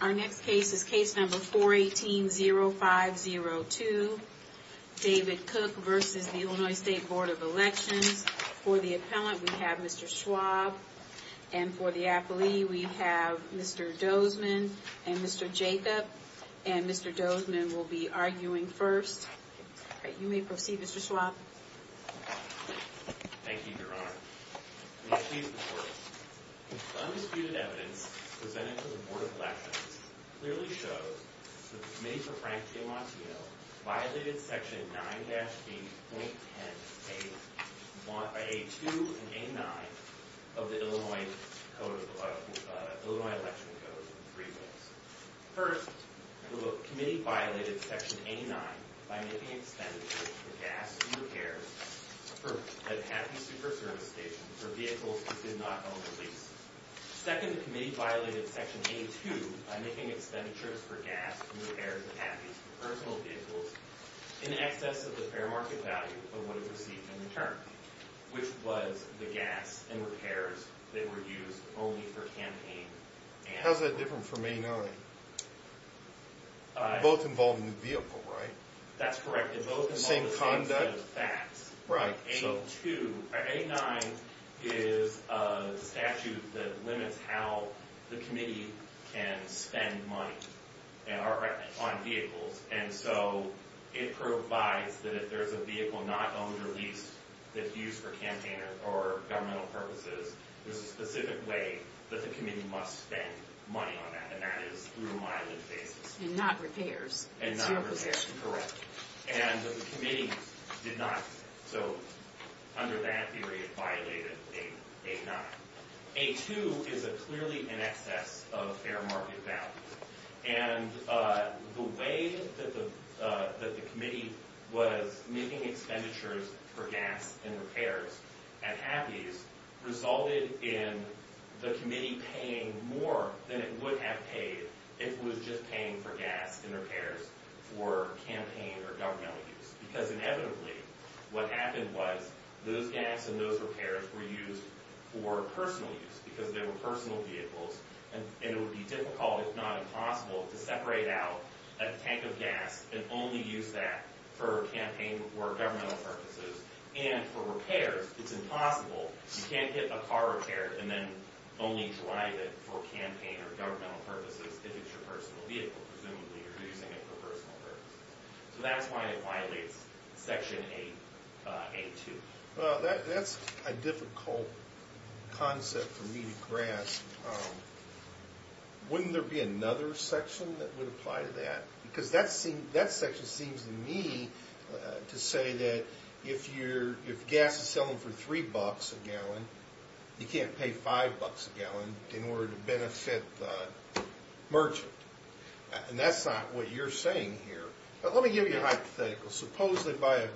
Our next case is case number 418-0502, David Cooke v. Illinois State Board of Elections. For the appellant, we have Mr. Schwab. And for the appellee, we have Mr. Dozman and Mr. Jacob. And Mr. Dozman will be arguing first. You may proceed, Mr. Schwab. Thank you, Your Honor. May I please report? The undisputed evidence presented to the Board of Elections clearly shows that the Committee for Frank G. Montiel violated Section 9-B.10-A-2 and A-9 of the Illinois Election Code in three ways. First, the Committee violated Section A-9 by making expenditures for gas and repairs at Happy Super Service Station for vehicles that did not own the lease. Second, the Committee violated Section A-2 by making expenditures for gas and repairs at Happy Super Service Station for personal vehicles in excess of the fair market value of what it received in return, which was the gas and repairs that were used only for campaign and... How's that different from A-9? Both involve new vehicle, right? That's correct. Both involve the same set of facts. Right. A-9 is a statute that limits how the Committee can spend money on vehicles. And so it provides that if there's a vehicle not owned or leased that's used for campaign or governmental purposes, there's a specific way that the Committee must spend money on that. And that is through mileage basis. And not repairs. And not repairs, correct. And the Committee did not. So under that theory, it violated A-9. A-2 is clearly in excess of fair market value. And the way that the Committee was making expenditures for gas and repairs at Happy's resulted in the Committee paying more than it would have paid if it was just paying for gas and repairs for campaign or governmental use. Because inevitably, what happened was those gas and those repairs were used for personal use because they were personal vehicles. And it would be difficult, if not impossible, to separate out a tank of gas and only use that for campaign or governmental purposes. And for repairs, it's impossible. You can't get a car repaired and then only drive it for campaign or governmental purposes if it's your personal vehicle. Presumably you're using it for personal purposes. So that's why it violates Section A-2. Well, that's a difficult concept for me to grasp. Wouldn't there be another section that would apply to that? Because that section seems to me to say that if gas is selling for $3 a gallon, you can't pay $5 a gallon in order to benefit the merchant. And that's not what you're saying here. Let me give you a hypothetical. Supposed they buy a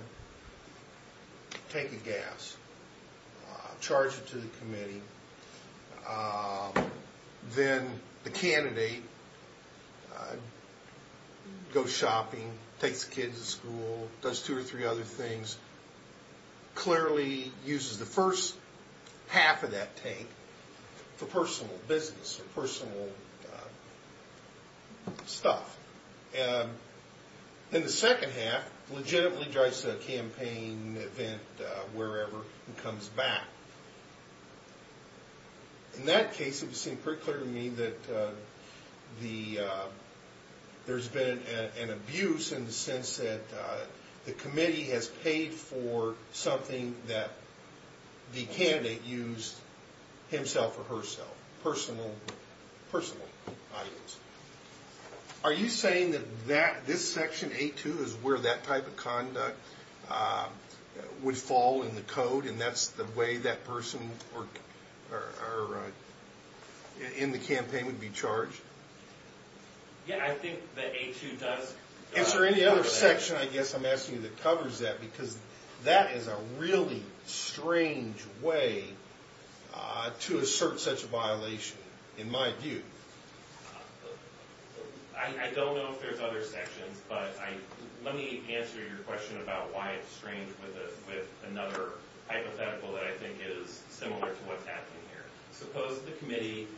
tank of gas, charge it to the committee, then the candidate goes shopping, takes the kids to school, does two or three other things, clearly uses the first half of that tank for personal business or personal stuff. And the second half legitimately drives to a campaign event, wherever, and comes back. In that case, it would seem pretty clear to me that there's been an abuse in the sense that the committee has paid for something that the candidate used himself or herself, personal items. Are you saying that this Section A-2 is where that type of conduct would fall in the code, and that's the way that person in the campaign would be charged? Yeah, I think that A-2 does cover that. Is there any other section, I guess I'm asking you, that covers that? Because that is a really strange way to assert such a violation, in my view. I don't know if there's other sections, but let me answer your question about why it's strange with another hypothetical that I think is similar to what's happening here. Suppose the committee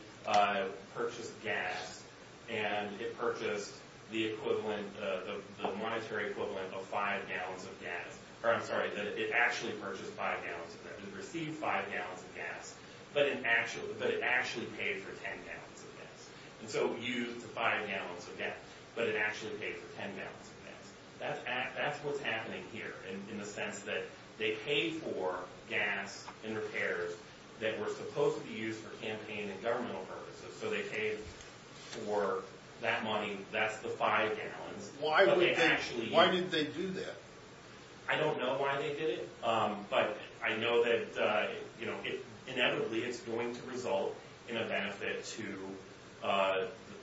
purchased gas, and it purchased the monetary equivalent of five gallons of gas. And so it used the five gallons of gas, but it actually paid for ten gallons of gas. That's what's happening here, in the sense that they paid for gas and repairs that were supposed to be used for campaign and governmental purposes. So they paid for that money. That's the five gallons. Why did they do that? I don't know why they did it. But I know that inevitably it's going to result in a benefit to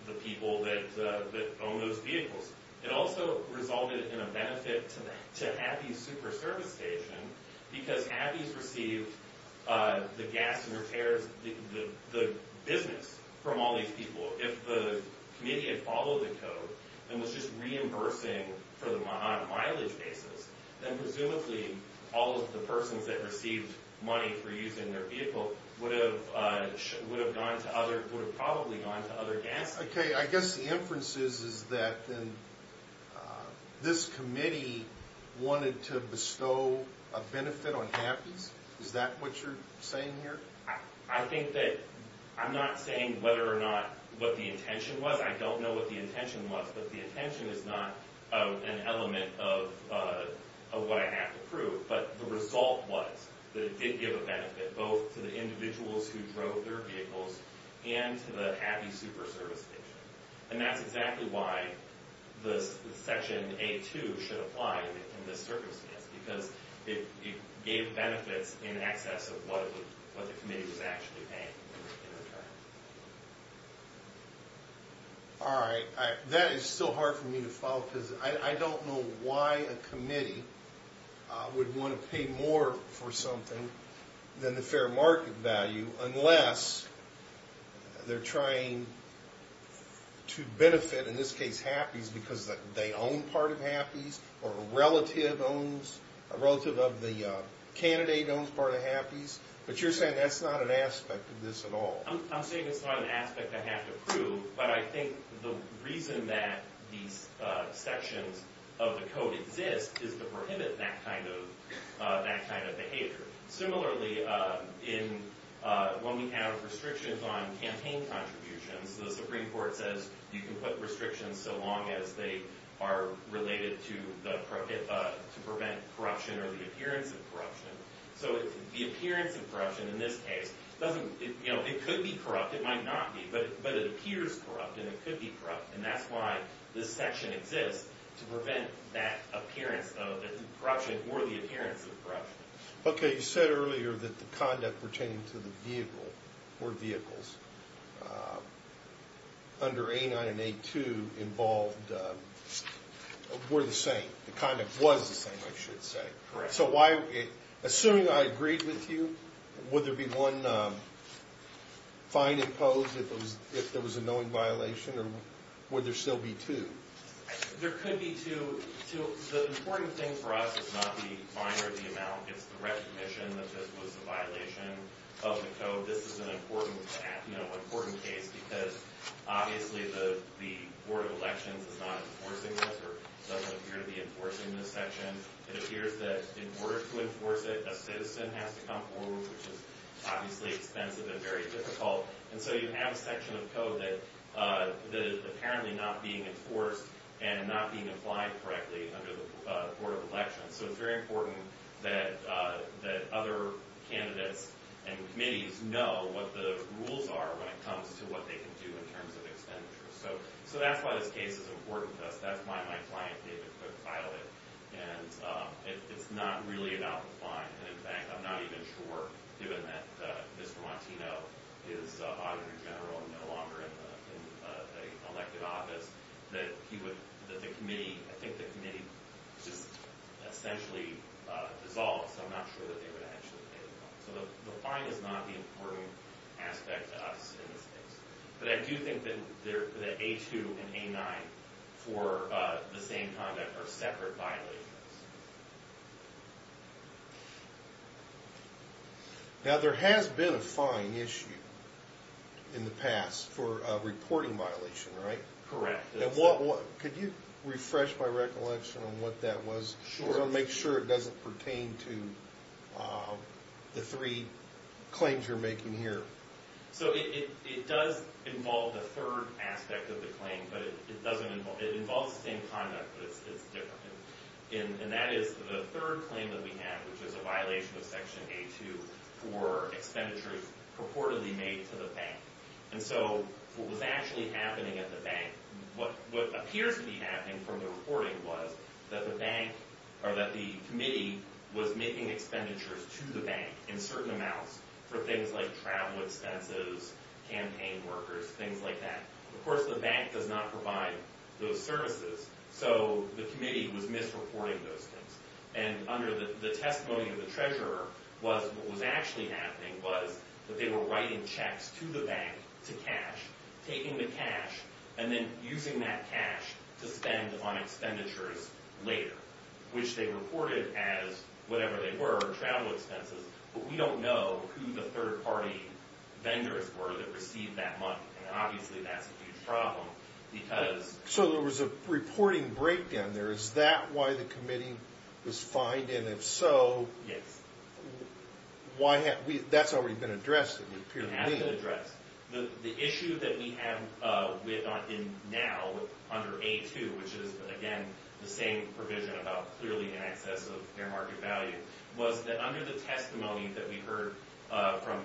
the people that own those vehicles. It also resulted in a benefit to Abbey's Super Service Station, because Abbey's received the gas and repairs, the business, from all these people. If the committee had followed the code and was just reimbursing for the mileage basis, then presumably all of the persons that received money for using their vehicle would have probably gone to other gas companies. Okay, I guess the inference is that this committee wanted to bestow a benefit on Abbey's. Is that what you're saying here? I think that I'm not saying whether or not what the intention was. I don't know what the intention was, but the intention is not an element of what I have to prove. But the result was that it did give a benefit both to the individuals who drove their vehicles and to the Abbey's Super Service Station. And that's exactly why the Section A-2 should apply in this circumstance, because it gave benefits in excess of what the committee was actually paying in return. All right, that is still hard for me to follow, because I don't know why a committee would want to pay more for something than the fair market value unless they're trying to benefit, in this case, Happy's because they own part of Happy's or a relative of the candidate owns part of Happy's. But you're saying that's not an aspect of this at all. I'm saying it's not an aspect I have to prove, but I think the reason that these sections of the code exist is to prohibit that kind of behavior. Similarly, when we have restrictions on campaign contributions, the Supreme Court says you can put restrictions so long as they are related to prevent corruption or the appearance of corruption. So the appearance of corruption in this case, it could be corrupt, it might not be, but it appears corrupt and it could be corrupt. And that's why this section exists, to prevent that appearance of corruption or the appearance of corruption. Okay, you said earlier that the conduct pertaining to the vehicle or vehicles under A9 and A2 involved were the same. The conduct was the same, I should say. Correct. So assuming I agreed with you, would there be one fine imposed if there was a knowing violation, or would there still be two? There could be two. The important thing for us is not the fine or the amount, it's the recognition that this was a violation of the code. This is an important case because obviously the Board of Elections is not enforcing this or doesn't appear to be enforcing this section. It appears that in order to enforce it, a citizen has to come forward, which is obviously expensive and very difficult. And so you have a section of code that is apparently not being enforced and not being applied correctly under the Board of Elections. So it's very important that other candidates and committees know what the rules are when it comes to what they can do in terms of expenditures. So that's why this case is important to us. That's why my client David Cook filed it. And it's not really about the fine. And, in fact, I'm not even sure, given that Mr. Montino is Auditor General and no longer in the elected office, that he would – that the committee – I think the committee just essentially dissolved, so I'm not sure that they would actually pay the fine. So the fine is not the important aspect to us in this case. But I do think that A2 and A9 for the same conduct are separate violations. Now, there has been a fine issue in the past for a reporting violation, right? Correct. Could you refresh my recollection on what that was? Sure. Because I want to make sure it doesn't pertain to the three claims you're making here. So it does involve the third aspect of the claim, but it doesn't involve – it involves the same conduct, but it's different. And that is the third claim that we have, which is a violation of Section A2 for expenditures purportedly made to the bank. And so what was actually happening at the bank – what appears to be happening from the reporting was that the bank – or that the committee was making expenditures to the bank in certain amounts for things like travel expenses, campaign workers, things like that. Of course, the bank does not provide those services. So the committee was misreporting those things. And under the testimony of the treasurer, what was actually happening was that they were writing checks to the bank to cash, taking the cash, and then using that cash to spend on expenditures later, which they reported as whatever they were, travel expenses. But we don't know who the third-party vendors were that received that money. And obviously, that's a huge problem because – there's a reporting breakdown there. Is that why the committee was fined? And if so, why – that's already been addressed, it would appear to me. It has been addressed. The issue that we have now under A2, which is, again, the same provision about clearly in excess of fair market value, was that under the testimony that we heard from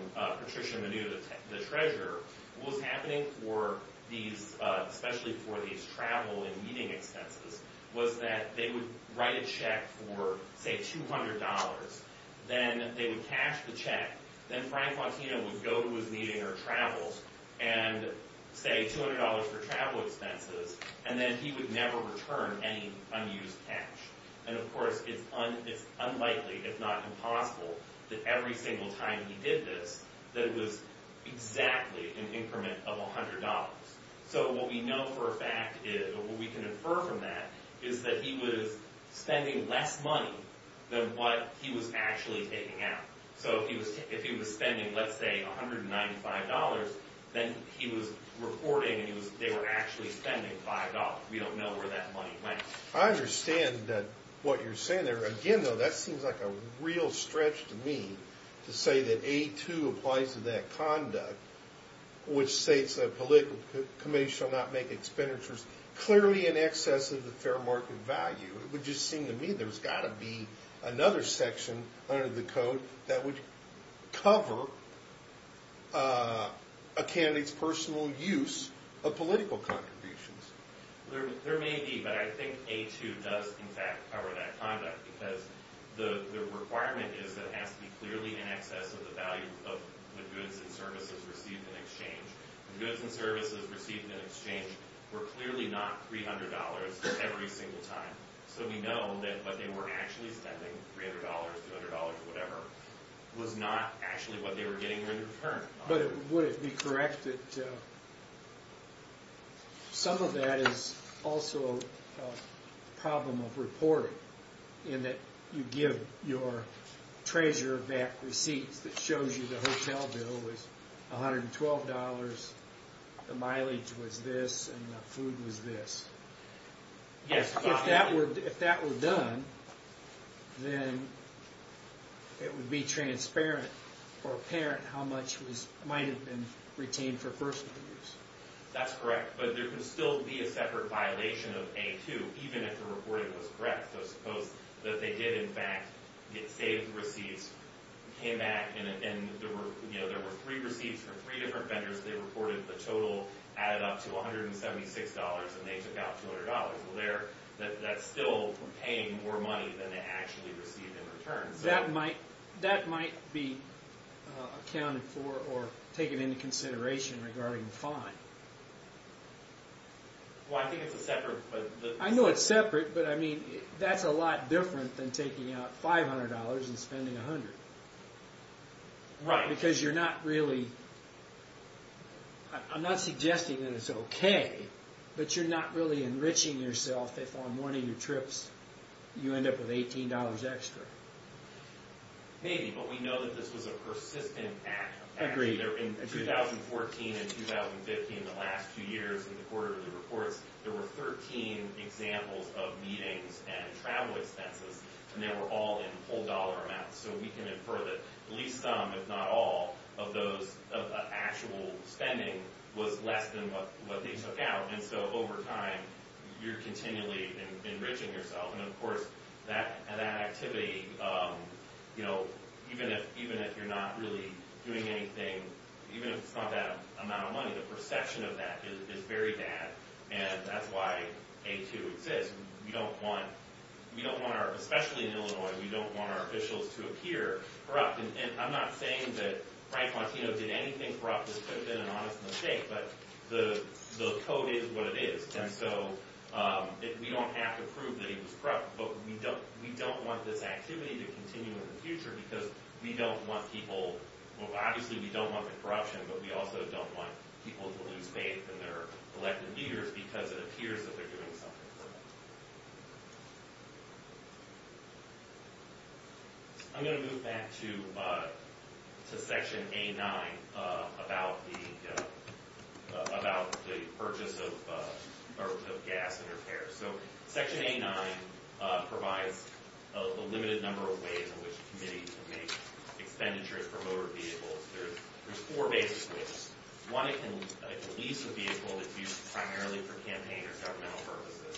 Patricia Manu, the treasurer, what was happening for these – especially for these travel and meeting expenses was that they would write a check for, say, $200. Then they would cash the check. Then Frank Fontina would go to his meeting or travels and, say, $200 for travel expenses. And then he would never return any unused cash. And, of course, it's unlikely, if not impossible, that every single time he did this, that it was exactly an increment of $100. So what we know for a fact is, or what we can infer from that, is that he was spending less money than what he was actually taking out. So if he was spending, let's say, $195, then he was reporting and they were actually spending $5. We don't know where that money went. I understand what you're saying there. Again, though, that seems like a real stretch to me to say that A2 applies to that conduct, which states that a political committee shall not make expenditures clearly in excess of the fair market value. It would just seem to me there's got to be another section under the code that would cover a candidate's personal use of political contributions. There may be, but I think A2 does, in fact, cover that conduct because the requirement is that it has to be clearly in excess of the value of the goods and services received in exchange. The goods and services received in exchange were clearly not $300 every single time. So we know that what they were actually spending, $300, $200, whatever, was not actually what they were getting in return. But would it be correct that some of that is also a problem of reporting in that you give your treasurer back receipts that shows you the hotel bill was $112, the mileage was this, and the food was this? If that were done, then it would be transparent or apparent how much might have been retained for personal use. That's correct, but there could still be a separate violation of A2, even if the reporting was correct. So suppose that they did, in fact, get saved receipts, came back, and there were three receipts from three different vendors. They reported the total added up to $176, and they took out $200. That's still paying more money than they actually received in return. That might be accounted for or taken into consideration regarding the fine. I know it's separate, but that's a lot different than taking out $500 and spending $100. Right. Because you're not really... I'm not suggesting that it's okay, but you're not really enriching yourself if on one of your trips you end up with $18 extra. Maybe, but we know that this was a persistent act. Agreed. In 2014 and 2015, the last two years in the quarterly reports, there were 13 examples of meetings and travel expenses, and they were all in whole dollar amounts. So we can infer that at least some, if not all, of those actual spending was less than what they took out. And so over time, you're continually enriching yourself. And, of course, that activity, even if you're not really doing anything, even if it's not that amount of money, the perception of that is very bad, and that's why A2 exists. Especially in Illinois, we don't want our officials to appear corrupt. And I'm not saying that Frank Montino did anything corrupt. This could have been an honest mistake, but the code is what it is. And so we don't have to prove that he was corrupt, but we don't want this activity to continue in the future because we don't want people... Obviously, we don't want the corruption, but we also don't want people to lose faith in their elected leaders because it appears that they're doing something for them. I'm going to move back to Section A9 about the purchase of gas and repairs. So Section A9 provides a limited number of ways in which a committee can make expenditure for motor vehicles. There's four basic rules. One, it can lease a vehicle that's used primarily for campaign or governmental purposes.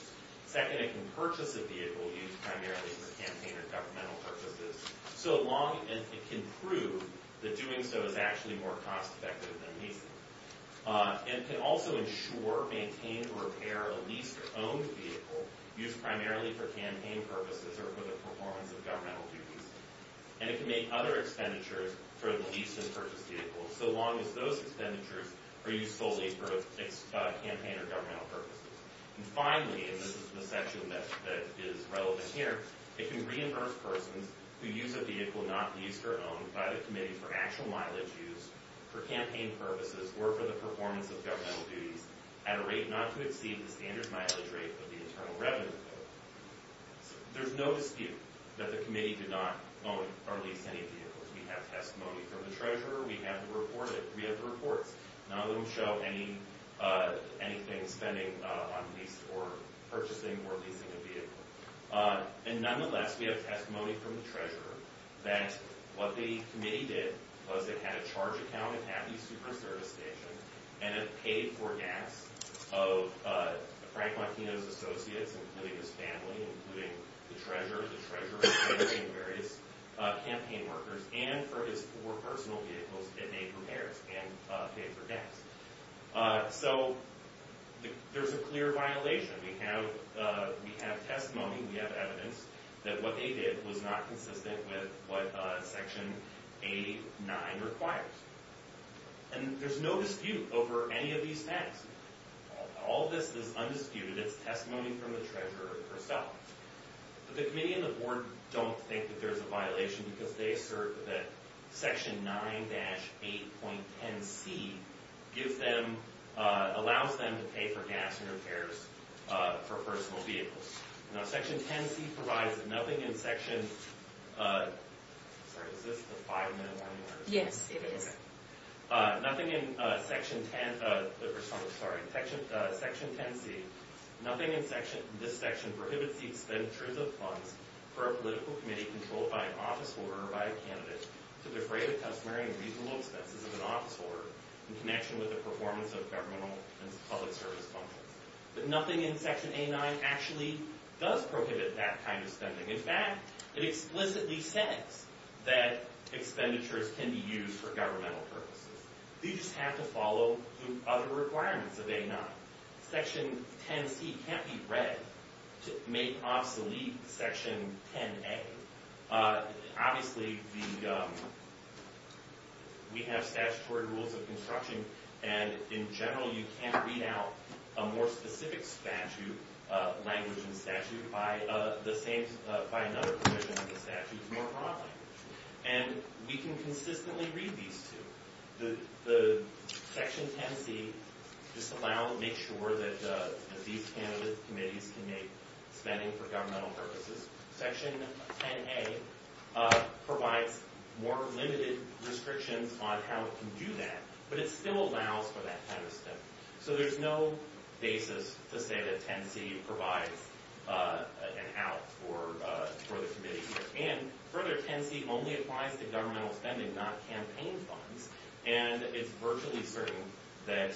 Second, it can purchase a vehicle used primarily for campaign or governmental purposes, so long as it can prove that doing so is actually more cost-effective than leasing. And it can also ensure, maintain, or repair a leased or owned vehicle used primarily for campaign purposes or for the performance of governmental duties. And it can make other expenditures for the lease and purchase vehicles, so long as those expenditures are used solely for campaign or governmental purposes. And finally, and this is the section that is relevant here, it can reimburse persons who use a vehicle not leased or owned by the committee for actual mileage used for campaign purposes or for the performance of governmental duties at a rate not to exceed the standard mileage rate of the internal revenue bill. There's no dispute that the committee did not loan or lease any vehicles. We have testimony from the treasurer. We have the reports. None of them show anything spending on leasing or purchasing or leasing a vehicle. And nonetheless, we have testimony from the treasurer that what the committee did was it had a charge account at Happy Super Service Station and it paid for gas of Frank Martino's associates, including his family, including the treasurer, the treasurer and various campaign workers, and for his four personal vehicles that they prepared and paid for gas. So there's a clear violation. We have testimony, we have evidence that what they did was not consistent with what Section 89 requires. And there's no dispute over any of these facts. All of this is undisputed. It's testimony from the treasurer herself. But the committee and the board don't think that there's a violation because they assert that Section 9-8.10c gives them, allows them to pay for gas and repairs for personal vehicles. Now, Section 10c provides that nothing in Section, sorry, is this the five-minute warning? Yes, it is. Nothing in Section 10, sorry, Section 10c, nothing in this section prohibits the expenditures of funds for a political committee controlled by an office holder or by a candidate to defray the customary and reasonable expenses of an office holder in connection with the performance of governmental and public service functions. But nothing in Section 89 actually does prohibit that kind of spending. In fact, it explicitly says that expenditures can be used for governmental purposes. You just have to follow the other requirements of 89. Section 10c can't be read to make obsolete Section 10a. Obviously, we have statutory rules of construction, and in general you can't read out a more specific statute, language and statute, by another provision of the statute more broadly. And we can consistently read these two. The Section 10c just allows, makes sure that these candidate committees can make spending for governmental purposes. Section 10a provides more limited restrictions on how it can do that, but it still allows for that kind of spending. So there's no basis to say that 10c provides an out for the committee. And further, 10c only applies to governmental spending, not campaign funds. And it's virtually certain that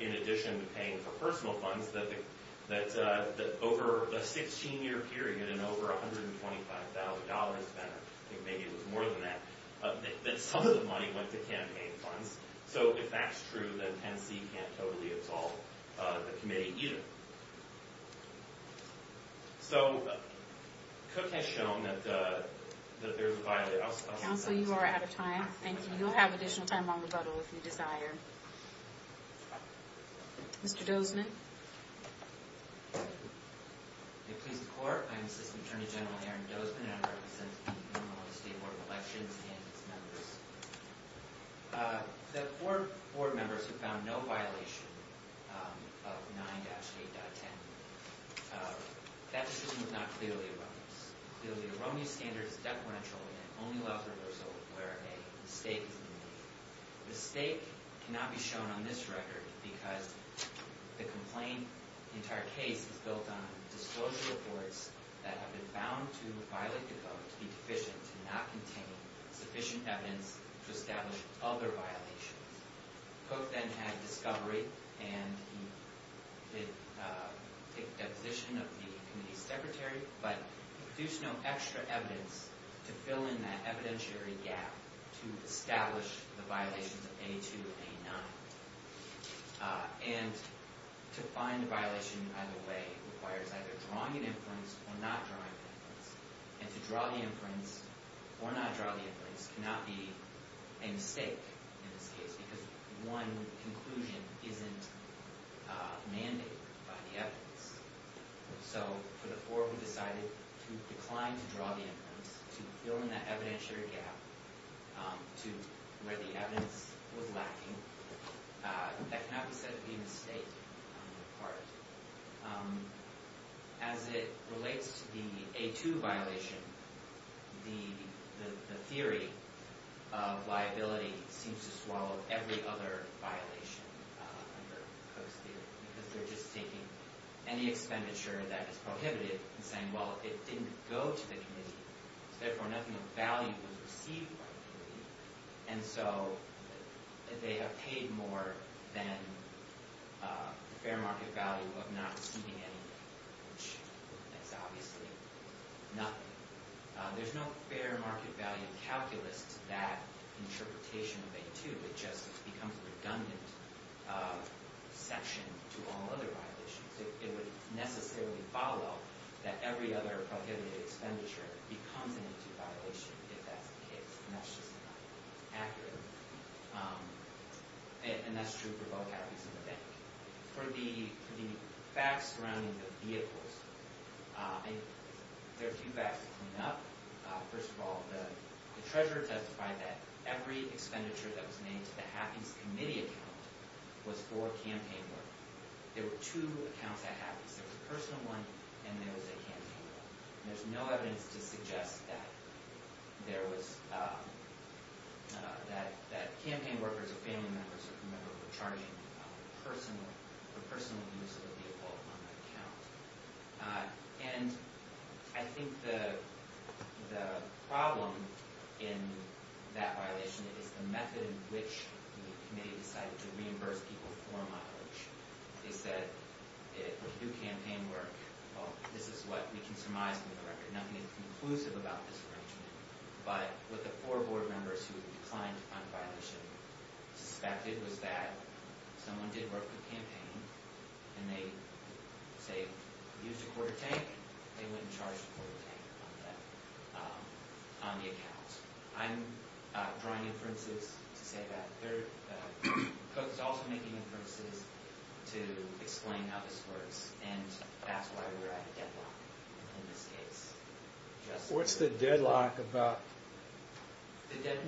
in addition to paying for personal funds, that over a 16-year period and over $125,000, I think maybe it was more than that, that some of the money went to campaign funds. So if that's true, then 10c can't totally absolve the committee either. So Cook has shown that there's a viability. Counsel, you are out of time. And you'll have additional time on rebuttal if you desire. Mr. Dozman? It pleases the Court. I'm Assistant Attorney General Aaron Dozman, and I represent the Illinois State Board of Elections and its members. The four board members who found no violation of 9-8.10, that decision was not clearly erroneous. Clearly, an erroneous standard is deferential and it only allows reversal where a mistake is made. A mistake cannot be shown on this record because the complaint, the entire case is built on disclosure reports that have been found to violate the code to be deficient, to not contain sufficient evidence to establish other violations. Cook then had discovery, and he did take deposition of the committee's secretary, but produced no extra evidence to fill in that evidentiary gap to establish the violations of 8-2 and 8-9. And to find a violation either way requires either drawing an inference or not drawing an inference. And to draw the inference or not draw the inference cannot be a mistake in this case because one conclusion isn't mandated by the evidence. So for the four who decided to decline to draw the inference, to fill in that evidentiary gap to where the evidence was lacking, that cannot be said to be a mistake on their part. As it relates to the 8-2 violation, the theory of liability seems to swallow every other violation under Cook's theory because they're just taking any expenditure that is prohibited and saying, well, it didn't go to the committee, so therefore nothing of value was received by the committee, and so they have paid more than the fair market value of not receiving anything, which is obviously nothing. There's no fair market value calculus to that interpretation of 8-2. It just becomes a redundant section to all other violations. It would necessarily follow that every other prohibited expenditure becomes an 8-2 violation if that's the case, and that's just not accurate. And that's true for both Hatties and the bank. For the facts surrounding the vehicles, there are a few facts to clean up. First of all, the treasurer testified that every expenditure that was made to the Hatties committee account was for campaign work. There were two accounts at Hatties. There was a personal one, and there was a campaign one. There's no evidence to suggest that campaign workers or family members were charging for personal use of the vehicle on that account. And I think the problem in that violation is the method in which the committee decided to reimburse people for mileage. They said it was through campaign work. Well, this is what we can surmise from the record. Nothing is conclusive about this arrangement. But what the four board members who declined to fund the violation suspected was that someone did work for the campaign, and they, say, used a quarter tank. They wouldn't charge a quarter tank on the account. First, I'm drawing inferences to say that there are folks also making inferences to explain how this works, and that's why we're at a deadlock in this case. What's the deadlock about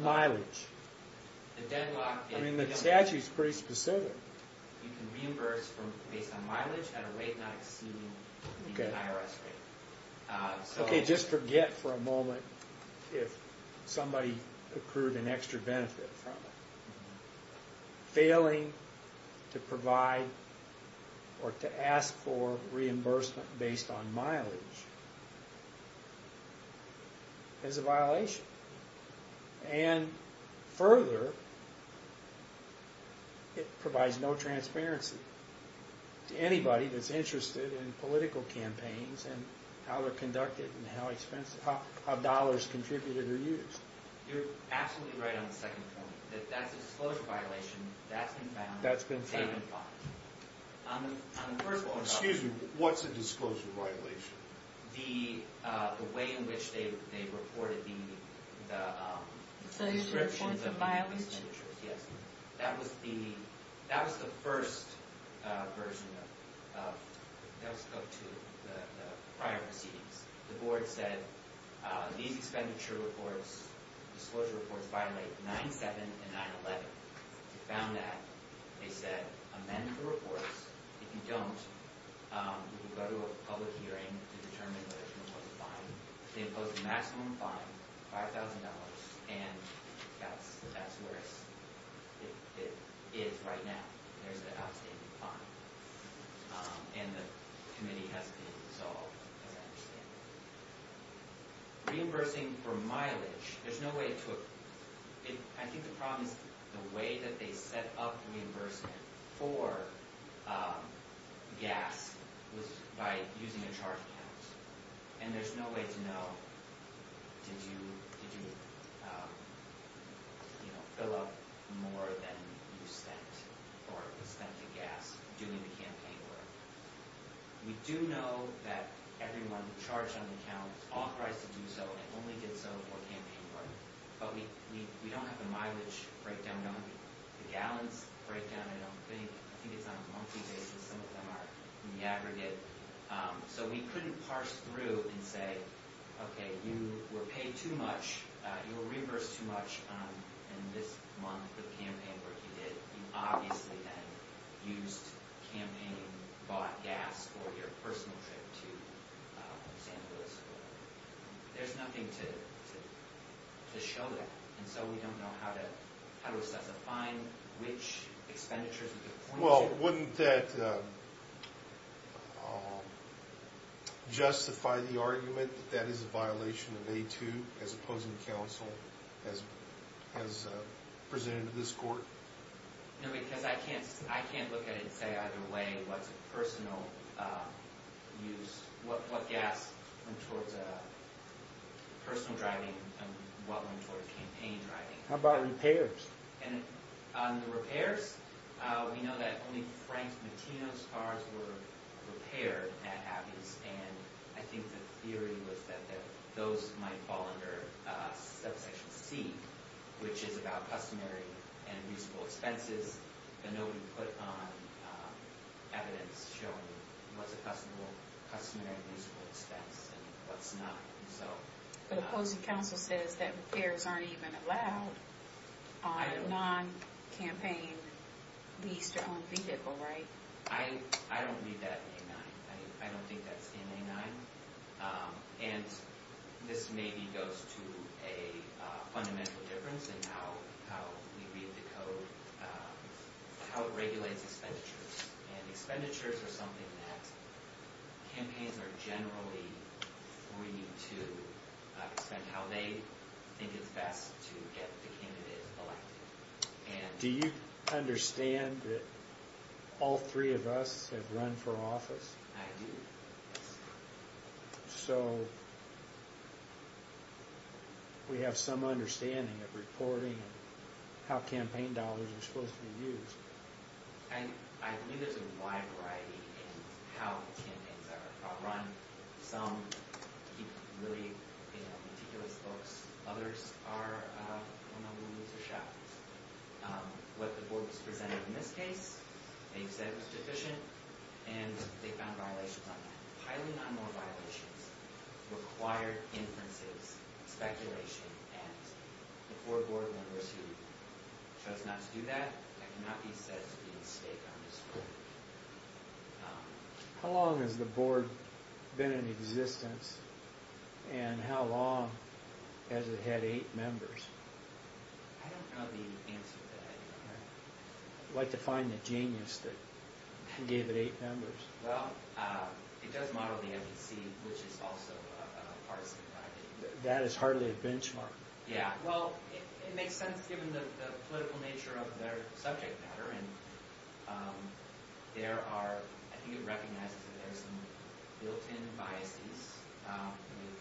mileage? I mean, the statute is pretty specific. You can reimburse based on mileage at a rate not exceeding the IRS rate. Okay, just forget for a moment if somebody accrued an extra benefit from it. Failing to provide or to ask for reimbursement based on mileage is a violation. And further, it provides no transparency to anybody that's interested in political campaigns and how they're conducted and how dollars contributed are used. You're absolutely right on the second point, that that's a disclosure violation. That's been found. That's been found. Excuse me, what's a disclosure violation? The way in which they reported the descriptions of the expenditures, yes. That was the first version of the prior proceedings. The board said, these expenditure reports, disclosure reports, violate 9-7 and 9-11. They found that. They said, amend the reports. If you don't, you can go to a public hearing to determine whether someone was fined. They imposed a maximum fine, $5,000. And that's where it is right now. There's an outstanding fine. And the committee has been dissolved, as I understand it. Reimbursing for mileage, there's no way to – I think the problem is the way that they set up reimbursement for gas was by using a charge account. And there's no way to know, did you, you know, fill up more than you spent or spent the gas doing the campaign work. We do know that everyone charged on the account is authorized to do so and only did so for campaign work. But we don't have the mileage breakdown, the gallons breakdown, I don't think. I think it's on a monthly basis. Some of them are in the aggregate. So we couldn't parse through and say, okay, you were paid too much. You were reimbursed too much in this month with campaign work you did. You obviously then used campaign-bought gas for your personal trip to San Luis Obispo. There's nothing to show that. And so we don't know how to assess a fine, which expenditures we can point to. Well, wouldn't that justify the argument that that is a violation of A2 as opposing counsel has presented to this court? No, because I can't look at it and say either way what's personal use, what gas went towards personal driving and what went towards campaign driving. How about repairs? And on the repairs, we know that only Frank Mattino's cars were repaired at Abbey's. And I think the theory was that those might fall under subsection C, which is about customary and usable expenses. And nobody put on evidence showing what's a customary and usable expense and what's not. But opposing counsel says that repairs aren't even allowed on a non-campaign leased or owned vehicle, right? I don't read that in A9. I don't think that's in A9. And this maybe goes to a fundamental difference in how we read the code, how it regulates expenditures. And expenditures are something that campaigns are generally free to spend how they think is best to get the candidate elected. Do you understand that all three of us have run for office? I do, yes. So we have some understanding of reporting and how campaign dollars are supposed to be used. I believe there's a wide variety in how the campaigns are run. Some keep really meticulous books. Others are on the loose or shot loose. What the board was presented in this case, they said it was deficient, and they found violations on that. Highly non-law violations required inferences, speculation, and the four board members who chose not to do that that cannot be said to be at stake on this board. How long has the board been in existence, and how long has it had eight members? I don't know the answer to that. I'd like to find the genius that gave it eight members. Well, it does model the FEC, which is also a partisan party. That is hardly a benchmark. Yeah, well, it makes sense given the political nature of their subject matter. I think it recognizes that there are some built-in biases with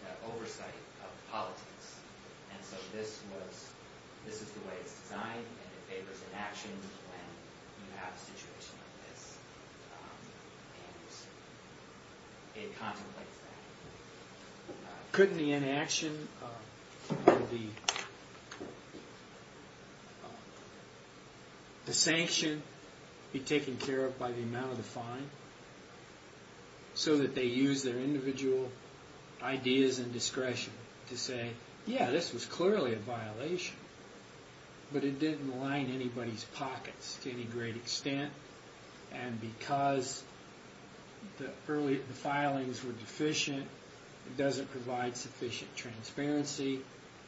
the oversight of politics. And so this is the way it's designed, and it favors inaction when you have a situation like this. And it contemplates that. Couldn't the inaction or the sanction be taken care of by the amount of the fine so that they use their individual ideas and discretion to say, yeah, this was clearly a violation, but it didn't line anybody's pockets to any great extent. And because the filings were deficient, it doesn't provide sufficient transparency,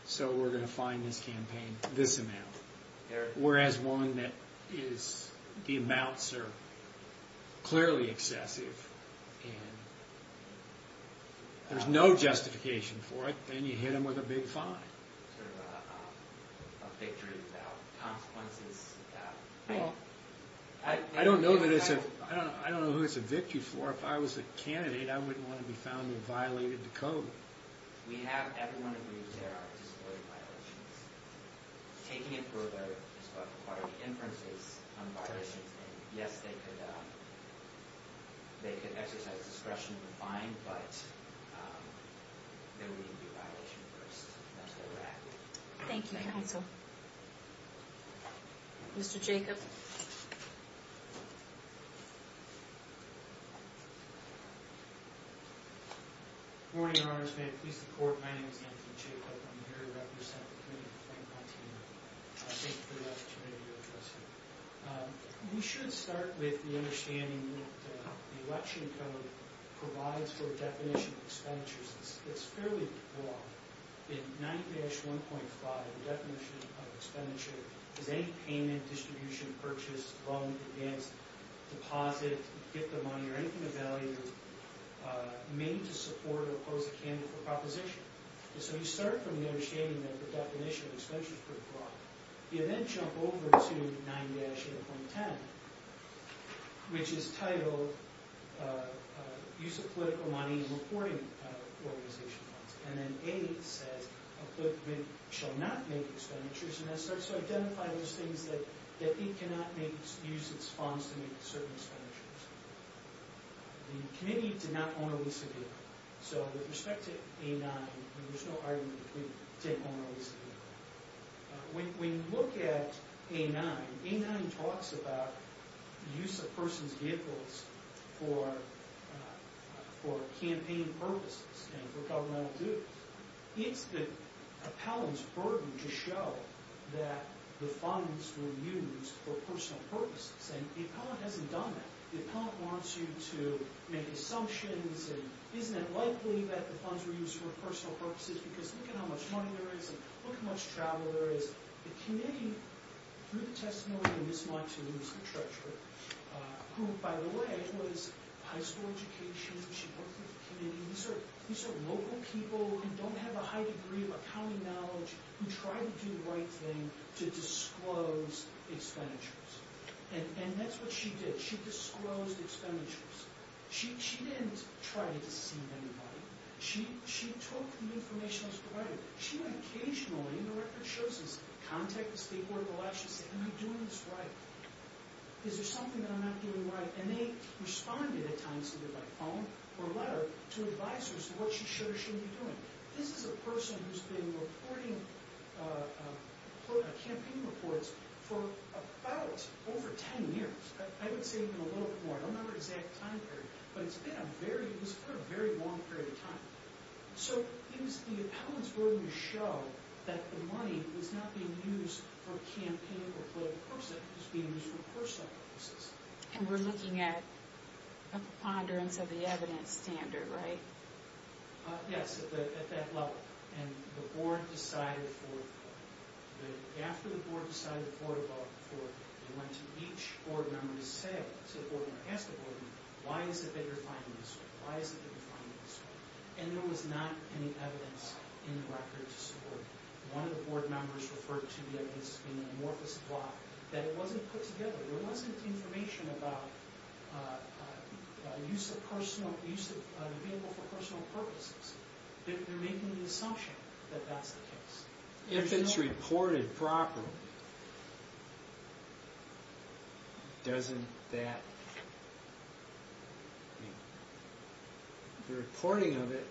so we're going to fine this campaign this amount. Whereas one that is the amounts are clearly excessive, and there's no justification for it, then you hit them with a big fine. Sort of a victory without consequences. Well, I don't know who it's a victory for. If I was a candidate, I wouldn't want to be found and violated the code. We have everyone agree there are disability violations. Taking it further as far as the inferences on violations, yes, they could exercise discretion in the fine, but there wouldn't be a violation first. That's what we're asking. Thank you, counsel. Mr. Jacob. Good morning, Your Honors. May it please the Court, my name is Anthony Jacob. I'm here to represent the committee to thank my team. Thank you for the opportunity to address you. We should start with the understanding that the election code provides for a definition of expenditures. It's fairly broad. In 9-1.5, the definition of expenditure is any payment, distribution, purchase, loan, advance, deposit, gift of money, or anything of value made to support or oppose a candidate for proposition. So you start from the understanding that the definition of expenditure is pretty broad. You then jump over to 9-8.10, which is titled Use of Political Money in Reporting Organization Funds. And then 8 says a political committee shall not make expenditures. And that starts to identify those things that it cannot use its funds to make certain expenditures. The committee did not own or lease a vehicle. So with respect to A9, there's no argument that we did own or lease a vehicle. When you look at A9, A9 talks about use of persons' vehicles for campaign purposes and for governmental duties. It's the appellant's burden to show that the funds were used for personal purposes. And the appellant hasn't done that. The appellant wants you to make assumptions and isn't it likely that the funds were used for personal purposes because look at how much money there is and look how much travel there is. The committee, through the testimony of Ms. Monson, who is the treasurer, who, by the way, was high school education, she worked with the committee. These are local people who don't have a high degree of accounting knowledge who try to do the right thing to disclose expenditures. And that's what she did. She disclosed expenditures. She didn't try to deceive anybody. She took the information that was provided. She would occasionally, and the record shows this, contact the State Board of Elections and say, am I doing this right? Is there something that I'm not doing right? And they responded at times either by phone or letter to advisers what she should or shouldn't be doing. This is a person who's been reporting campaign reports for about over 10 years. I would say even a little bit more. I don't know her exact time period. But it's been a very long period of time. So it was the appellant's burden to show that the money was not being used for campaign or political purposes. It was being used for personal purposes. And we're looking at a preponderance of the evidence standard, right? Yes, at that level. And the board decided to forward the report. After the board decided to forward the report, they went to each board member and said, why is it that you're finding this way? Why is it that you're finding this way? And there was not any evidence in the record to support it. One of the board members referred to the evidence as being an amorphous lie, that it wasn't put together. There wasn't information about the use of the vehicle for personal purposes. They're making the assumption that that's the case. If it's reported properly, doesn't that mean? The reporting of it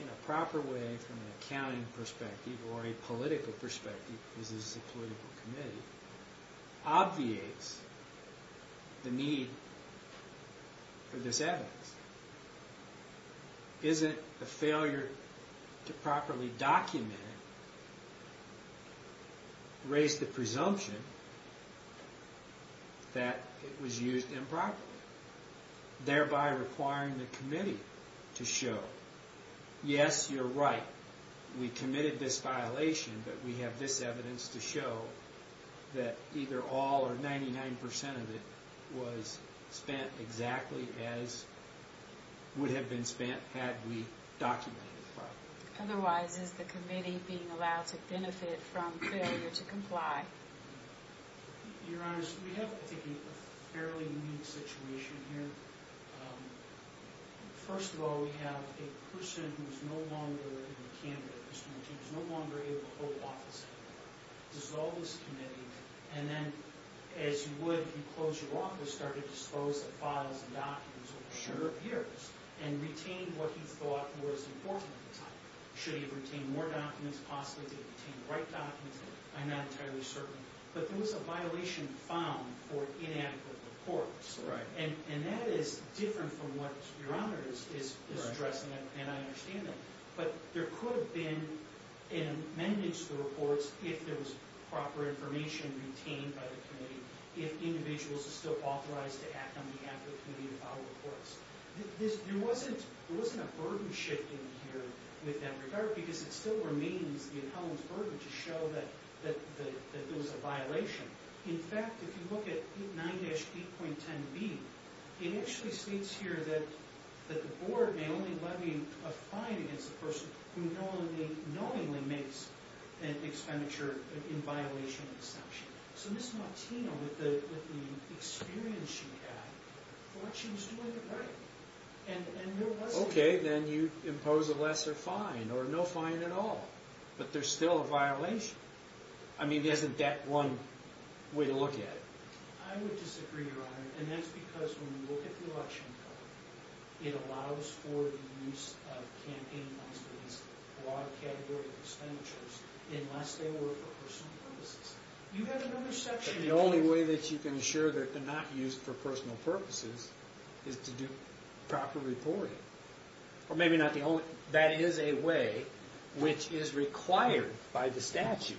in a proper way from an accounting perspective or a political perspective, because this is a political committee, obviates the need for this evidence. Isn't the failure to properly document it raise the presumption that it was used improperly, thereby requiring the committee to show, yes, you're right, we committed this violation, but we have this evidence to show that either all or 99% of it was spent exactly as would have been spent had we documented it properly. Otherwise, is the committee being allowed to benefit from failure to comply? Your Honors, we have, I think, a fairly unique situation here. First of all, we have a person who's no longer a candidate, who's no longer able to hold office anymore, dissolved this committee, and then, as you would if you closed your office, started to dispose of files and documents over a number of years and retained what he thought was important at the time. Should he have retained more documents? Possibly did he retain the right documents? I'm not entirely certain, but there was a violation found for inadequate reports. That is different from what Your Honors is addressing, and I understand that. But there could have been an amendment to the reports if there was proper information retained by the committee, if individuals are still authorized to act on behalf of the committee to file reports. There wasn't a burden shift in here with that regard because it still remains the accountants' burden to show that there was a violation. In fact, if you look at 9-8.10b, it actually states here that the board may only levy a fine against the person who knowingly makes an expenditure in violation of the statute. So Ms. Martino, with the experience she had, thought she was doing it right. Okay, then you'd impose a lesser fine or no fine at all, but there's still a violation. I mean, isn't that one way to look at it? I would disagree, Your Honor, and that's because when you look at the election code, it allows for the use of campaign-based, broad category expenditures unless they were for personal purposes. You have another section... The only way that you can assure that they're not used for personal purposes is to do proper reporting. Or maybe not the only... That is a way which is required by the statute.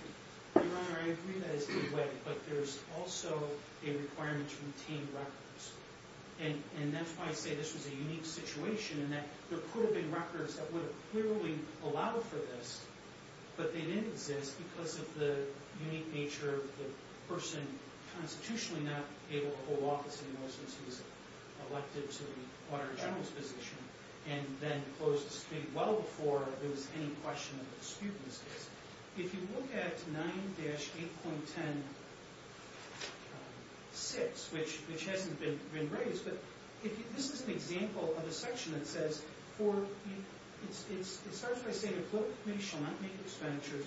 Your Honor, I agree that is the way, but there's also a requirement to retain records. And that's why I say this was a unique situation in that there could have been records that would have clearly allowed for this, but they didn't exist because of the unique nature of the person constitutionally not able to hold office, and in most cases elected to the Auditor General's position and then closed the state well before there was any question of dispute in this case. If you look at 9-8.10.6, which hasn't been raised, but this is an example of a section that says for... It starts by saying a political committee shall not make expenditures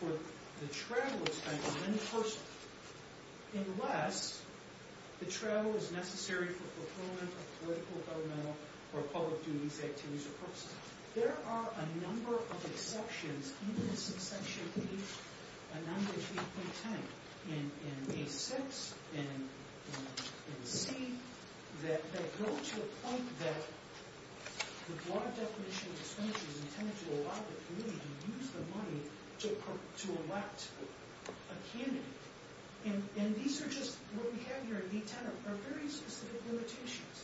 for the travel expenses of any person unless the travel is necessary for fulfillment of political, governmental, or public duties, activities, or purposes. There are a number of exceptions in this section, a number of 8.10 in A-6, in C, that go to a point that the broad definition of expenditures intended to allow the committee to use the money to elect a candidate. And these are just... What we have here in B-10 are very specific limitations.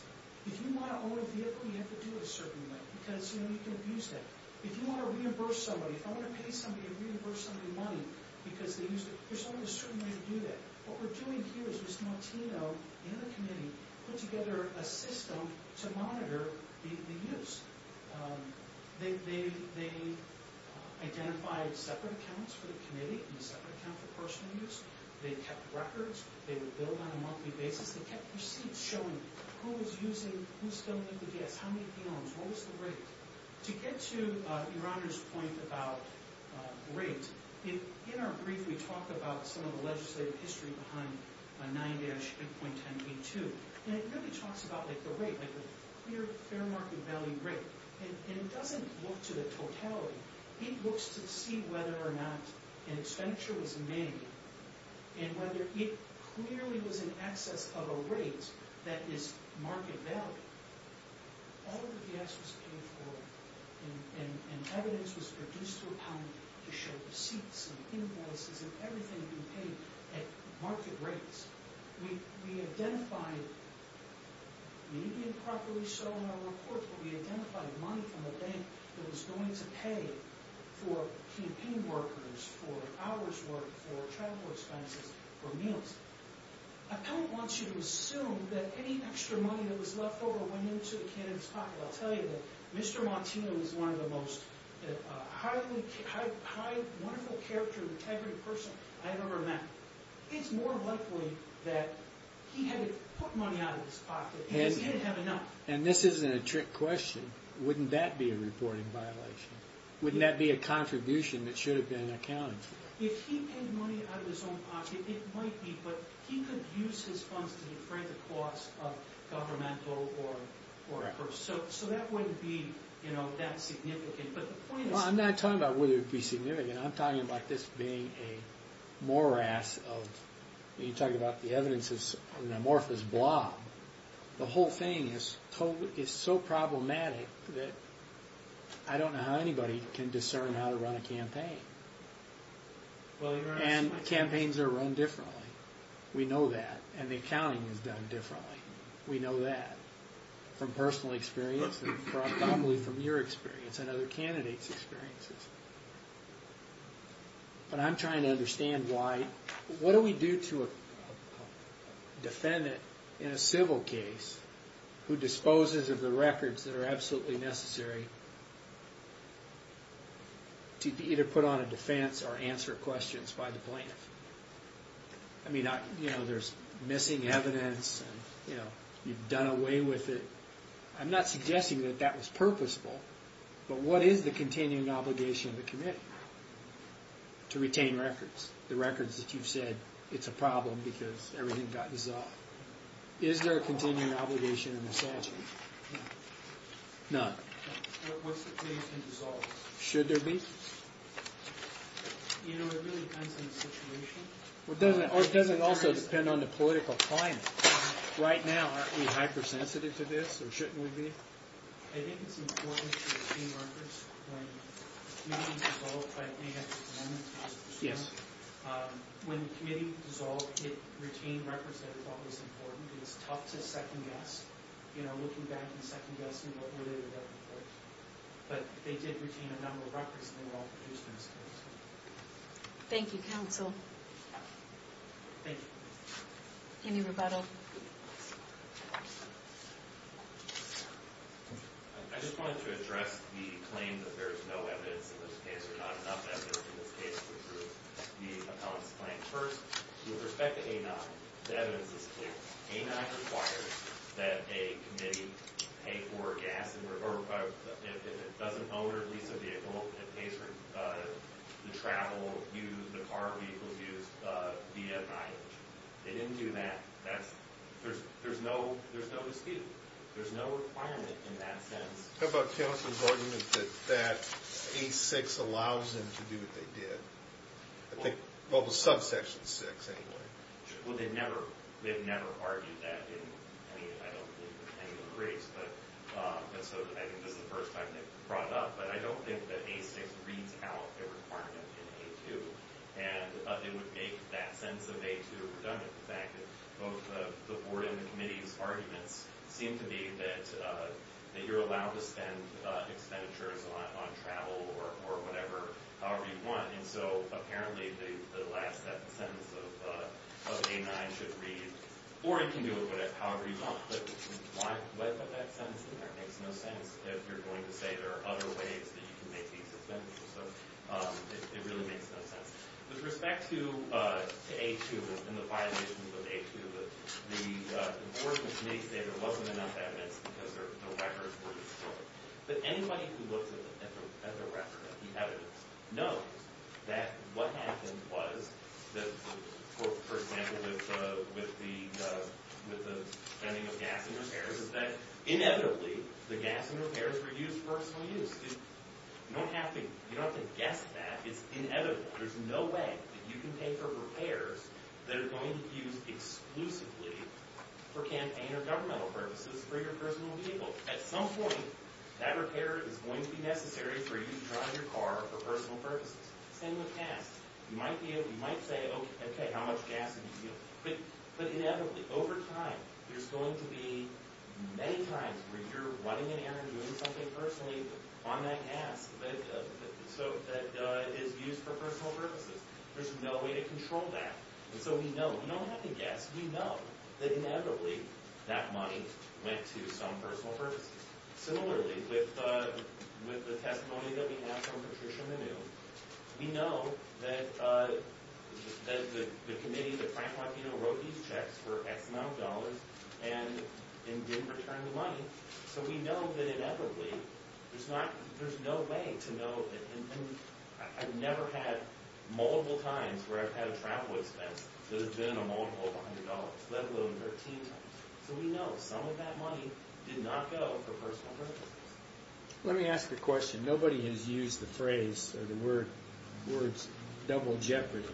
If you want to own a vehicle, you have to do it a certain way because, you know, you can abuse that. If you want to reimburse somebody, if I want to pay somebody to reimburse somebody money because they used it, there's always a certain way to do that. What we're doing here is Ms. Martino and the committee put together a system to monitor the use. They identified separate accounts for the committee and separate accounts for personal use. They kept records. They would bill on a monthly basis. They kept receipts showing who was using, who still lived with us, how many p.ms., what was the rate. To get to Your Honor's point about rate, in our brief we talk about some of the legislative history behind 9-8.10b-2. And it really talks about, like, the rate, like a clear fair market value rate. And it doesn't look to the totality. It looks to see whether or not an expenditure was made and whether it clearly was in excess of a rate that is market value. All of the gas was paid for and evidence was produced to a pound to show receipts and invoices and everything being paid at market rates. We identified, maybe improperly so in our report, but we identified money from a bank that was going to pay for campaign workers, for hours worked, for travel expenses, for meals. I don't want you to assume that any extra money that was left over went into a kid in his pocket. I'll tell you that Mr. Montino was one of the most highly, wonderful character, integrity person I've ever met. It's more likely that he hadn't put money out of his pocket because he didn't have enough. And this isn't a trick question. Wouldn't that be a reporting violation? Wouldn't that be a contribution that should have been accounted for? If he paid money out of his own pocket, it might be, but he could use his funds to defray the cost of governmental or... So that wouldn't be that significant, but the point is... Well, I'm not talking about whether it would be significant. I'm talking about this being a morass of... You're talking about the evidence is an amorphous blob. The whole thing is so problematic that I don't know how anybody can discern how to run a campaign. And campaigns are run differently. We know that, and the accounting is done differently. We know that from personal experience, and probably from your experience and other candidates' experiences. But I'm trying to understand why... What do we do to a defendant in a civil case who disposes of the records that are absolutely necessary to either put on a defense or answer questions by the plaintiff? I mean, there's missing evidence, and you've done away with it. I'm not suggesting that that was purposeful, but what is the continuing obligation of the committee to retain records, the records that you've said, it's a problem because everything got dissolved? Is there a continuing obligation in the statute? None. What's the case in dissolved? Should there be? You know, it really depends on the situation. Well, it doesn't also depend on the political climate. Right now, aren't we hypersensitive to this, or shouldn't we be? I think it's important to retain records when... You mean dissolved by the plaintiff at the moment? Yes. When the committee dissolved, it retained records that it thought was important. It was tough to second-guess, you know, looking back and second-guessing what would it or wouldn't it. But they did retain a number of records, and they were all produced in this case. Thank you, counsel. Thank you. Any rebuttal? I just wanted to address the claim that there is no evidence in this case, or not enough evidence in this case, to approve the appellant's claim. First, with respect to A-9, the evidence is clear. A-9 requires that a committee pay for gas, or if it doesn't own or lease a vehicle, it pays for the travel used, the car vehicles used, via mileage. They didn't do that. There's no dispute. There's no requirement in that sense. How about counsel's argument that that A-6 allows them to do what they did? Well, the subsection 6, anyway. Well, they've never argued that in any of the briefs. And so I think this is the first time they've brought it up. But I don't think that A-6 reads out a requirement in A-2. And it would make that sense of A-2 redundant. The fact that both the board and the committee's arguments seem to be that you're allowed to spend expenditures on travel or whatever, however you want. And so apparently the last sentence of A-9 should read, or it can do it however you want. But why put that sentence in there? It makes no sense if you're going to say there are other ways that you can make these expenditures. So it really makes no sense. With respect to A-2 and the violations of A-2, the enforcement committee said there wasn't enough evidence because the records were distorted. But anybody who looks at the record, at the evidence, knows that what happened was that, for example, with the spending of gas and repairs, is that inevitably the gas and repairs were used for personal use. You don't have to guess that. It's inevitable. There's no way that you can pay for repairs that are going to be used exclusively for campaign or governmental purposes for your personal vehicle. At some point, that repair is going to be necessary for you to drive your car for personal purposes. Same with gas. You might say, okay, how much gas did you use? But inevitably, over time, there's going to be many times where you're running an errand or doing something personally on that gas that is used for personal purposes. There's no way to control that. And so we know. We don't have to guess. We know that, inevitably, that money went to some personal purposes. Similarly, with the testimony that we have from Patricia Manu, we know that the committee, that Frank Latino, wrote these checks for X amount of dollars and didn't return the money. So we know that, inevitably, there's no way to know. I've never had multiple times where I've had a travel expense that has been a multiple of $100, let alone 13 times. So we know some of that money did not go for personal purposes. Let me ask a question. Nobody has used the phrase or the words double jeopardy,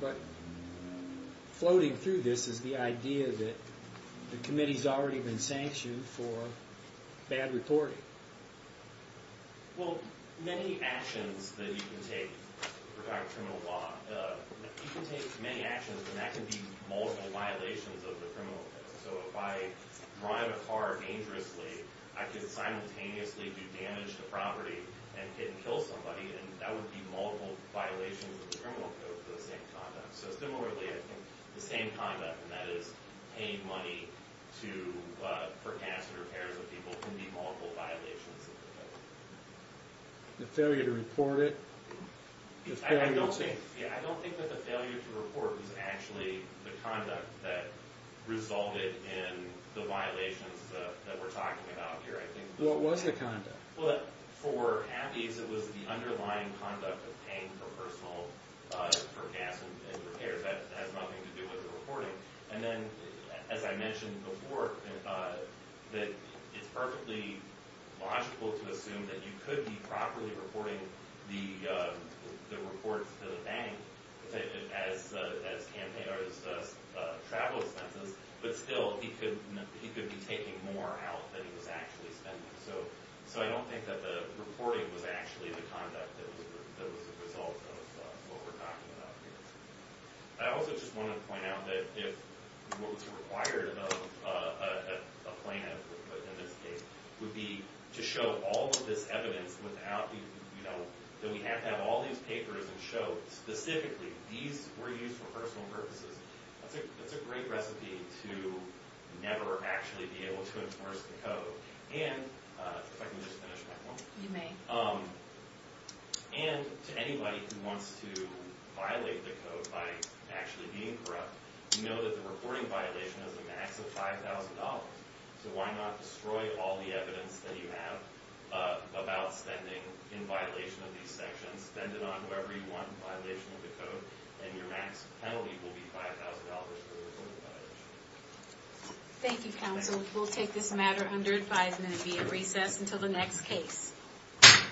but floating through this is the idea that the committee's already been sanctioned for bad reporting. Well, many actions that you can take regarding criminal law, you can take many actions, and that can be multiple violations of the criminal code. So if I drive a car dangerously, I could simultaneously do damage to property and kill somebody, and that would be multiple violations of the criminal code for the same conduct. So similarly, I think the same conduct, and that is paying money for gas and repairs of people can be multiple violations of the code. The failure to report it? I don't think that the failure to report is actually the conduct that resolved it in the violations that we're talking about here. What was the conduct? Well, for Abbey's, it was the underlying conduct of paying for personal, for gas and repairs. That has nothing to do with the reporting. And then, as I mentioned before, that it's perfectly logical to assume that you could be properly reporting the reports to the bank as travel expenses, but still he could be taking more out than he was actually spending. So I don't think that the reporting was actually the conduct that was the result of what we're talking about here. I also just want to point out that if what was required of a plaintiff, in this case, would be to show all of this evidence without, you know, that we have to have all these papers and show specifically these were used for personal purposes, that's a great recipe to never actually be able to enforce the code. And if I can just finish my point. You may. And to anybody who wants to violate the code by actually being corrupt, you know that the reporting violation has a max of $5,000. So why not destroy all the evidence that you have about spending in violation of these sanctions, spend it on whoever you want in violation of the code, and your max penalty will be $5,000 for the reporting violation. Thank you, counsel. We'll take this matter under advisement and be at recess until the next case. Thank you.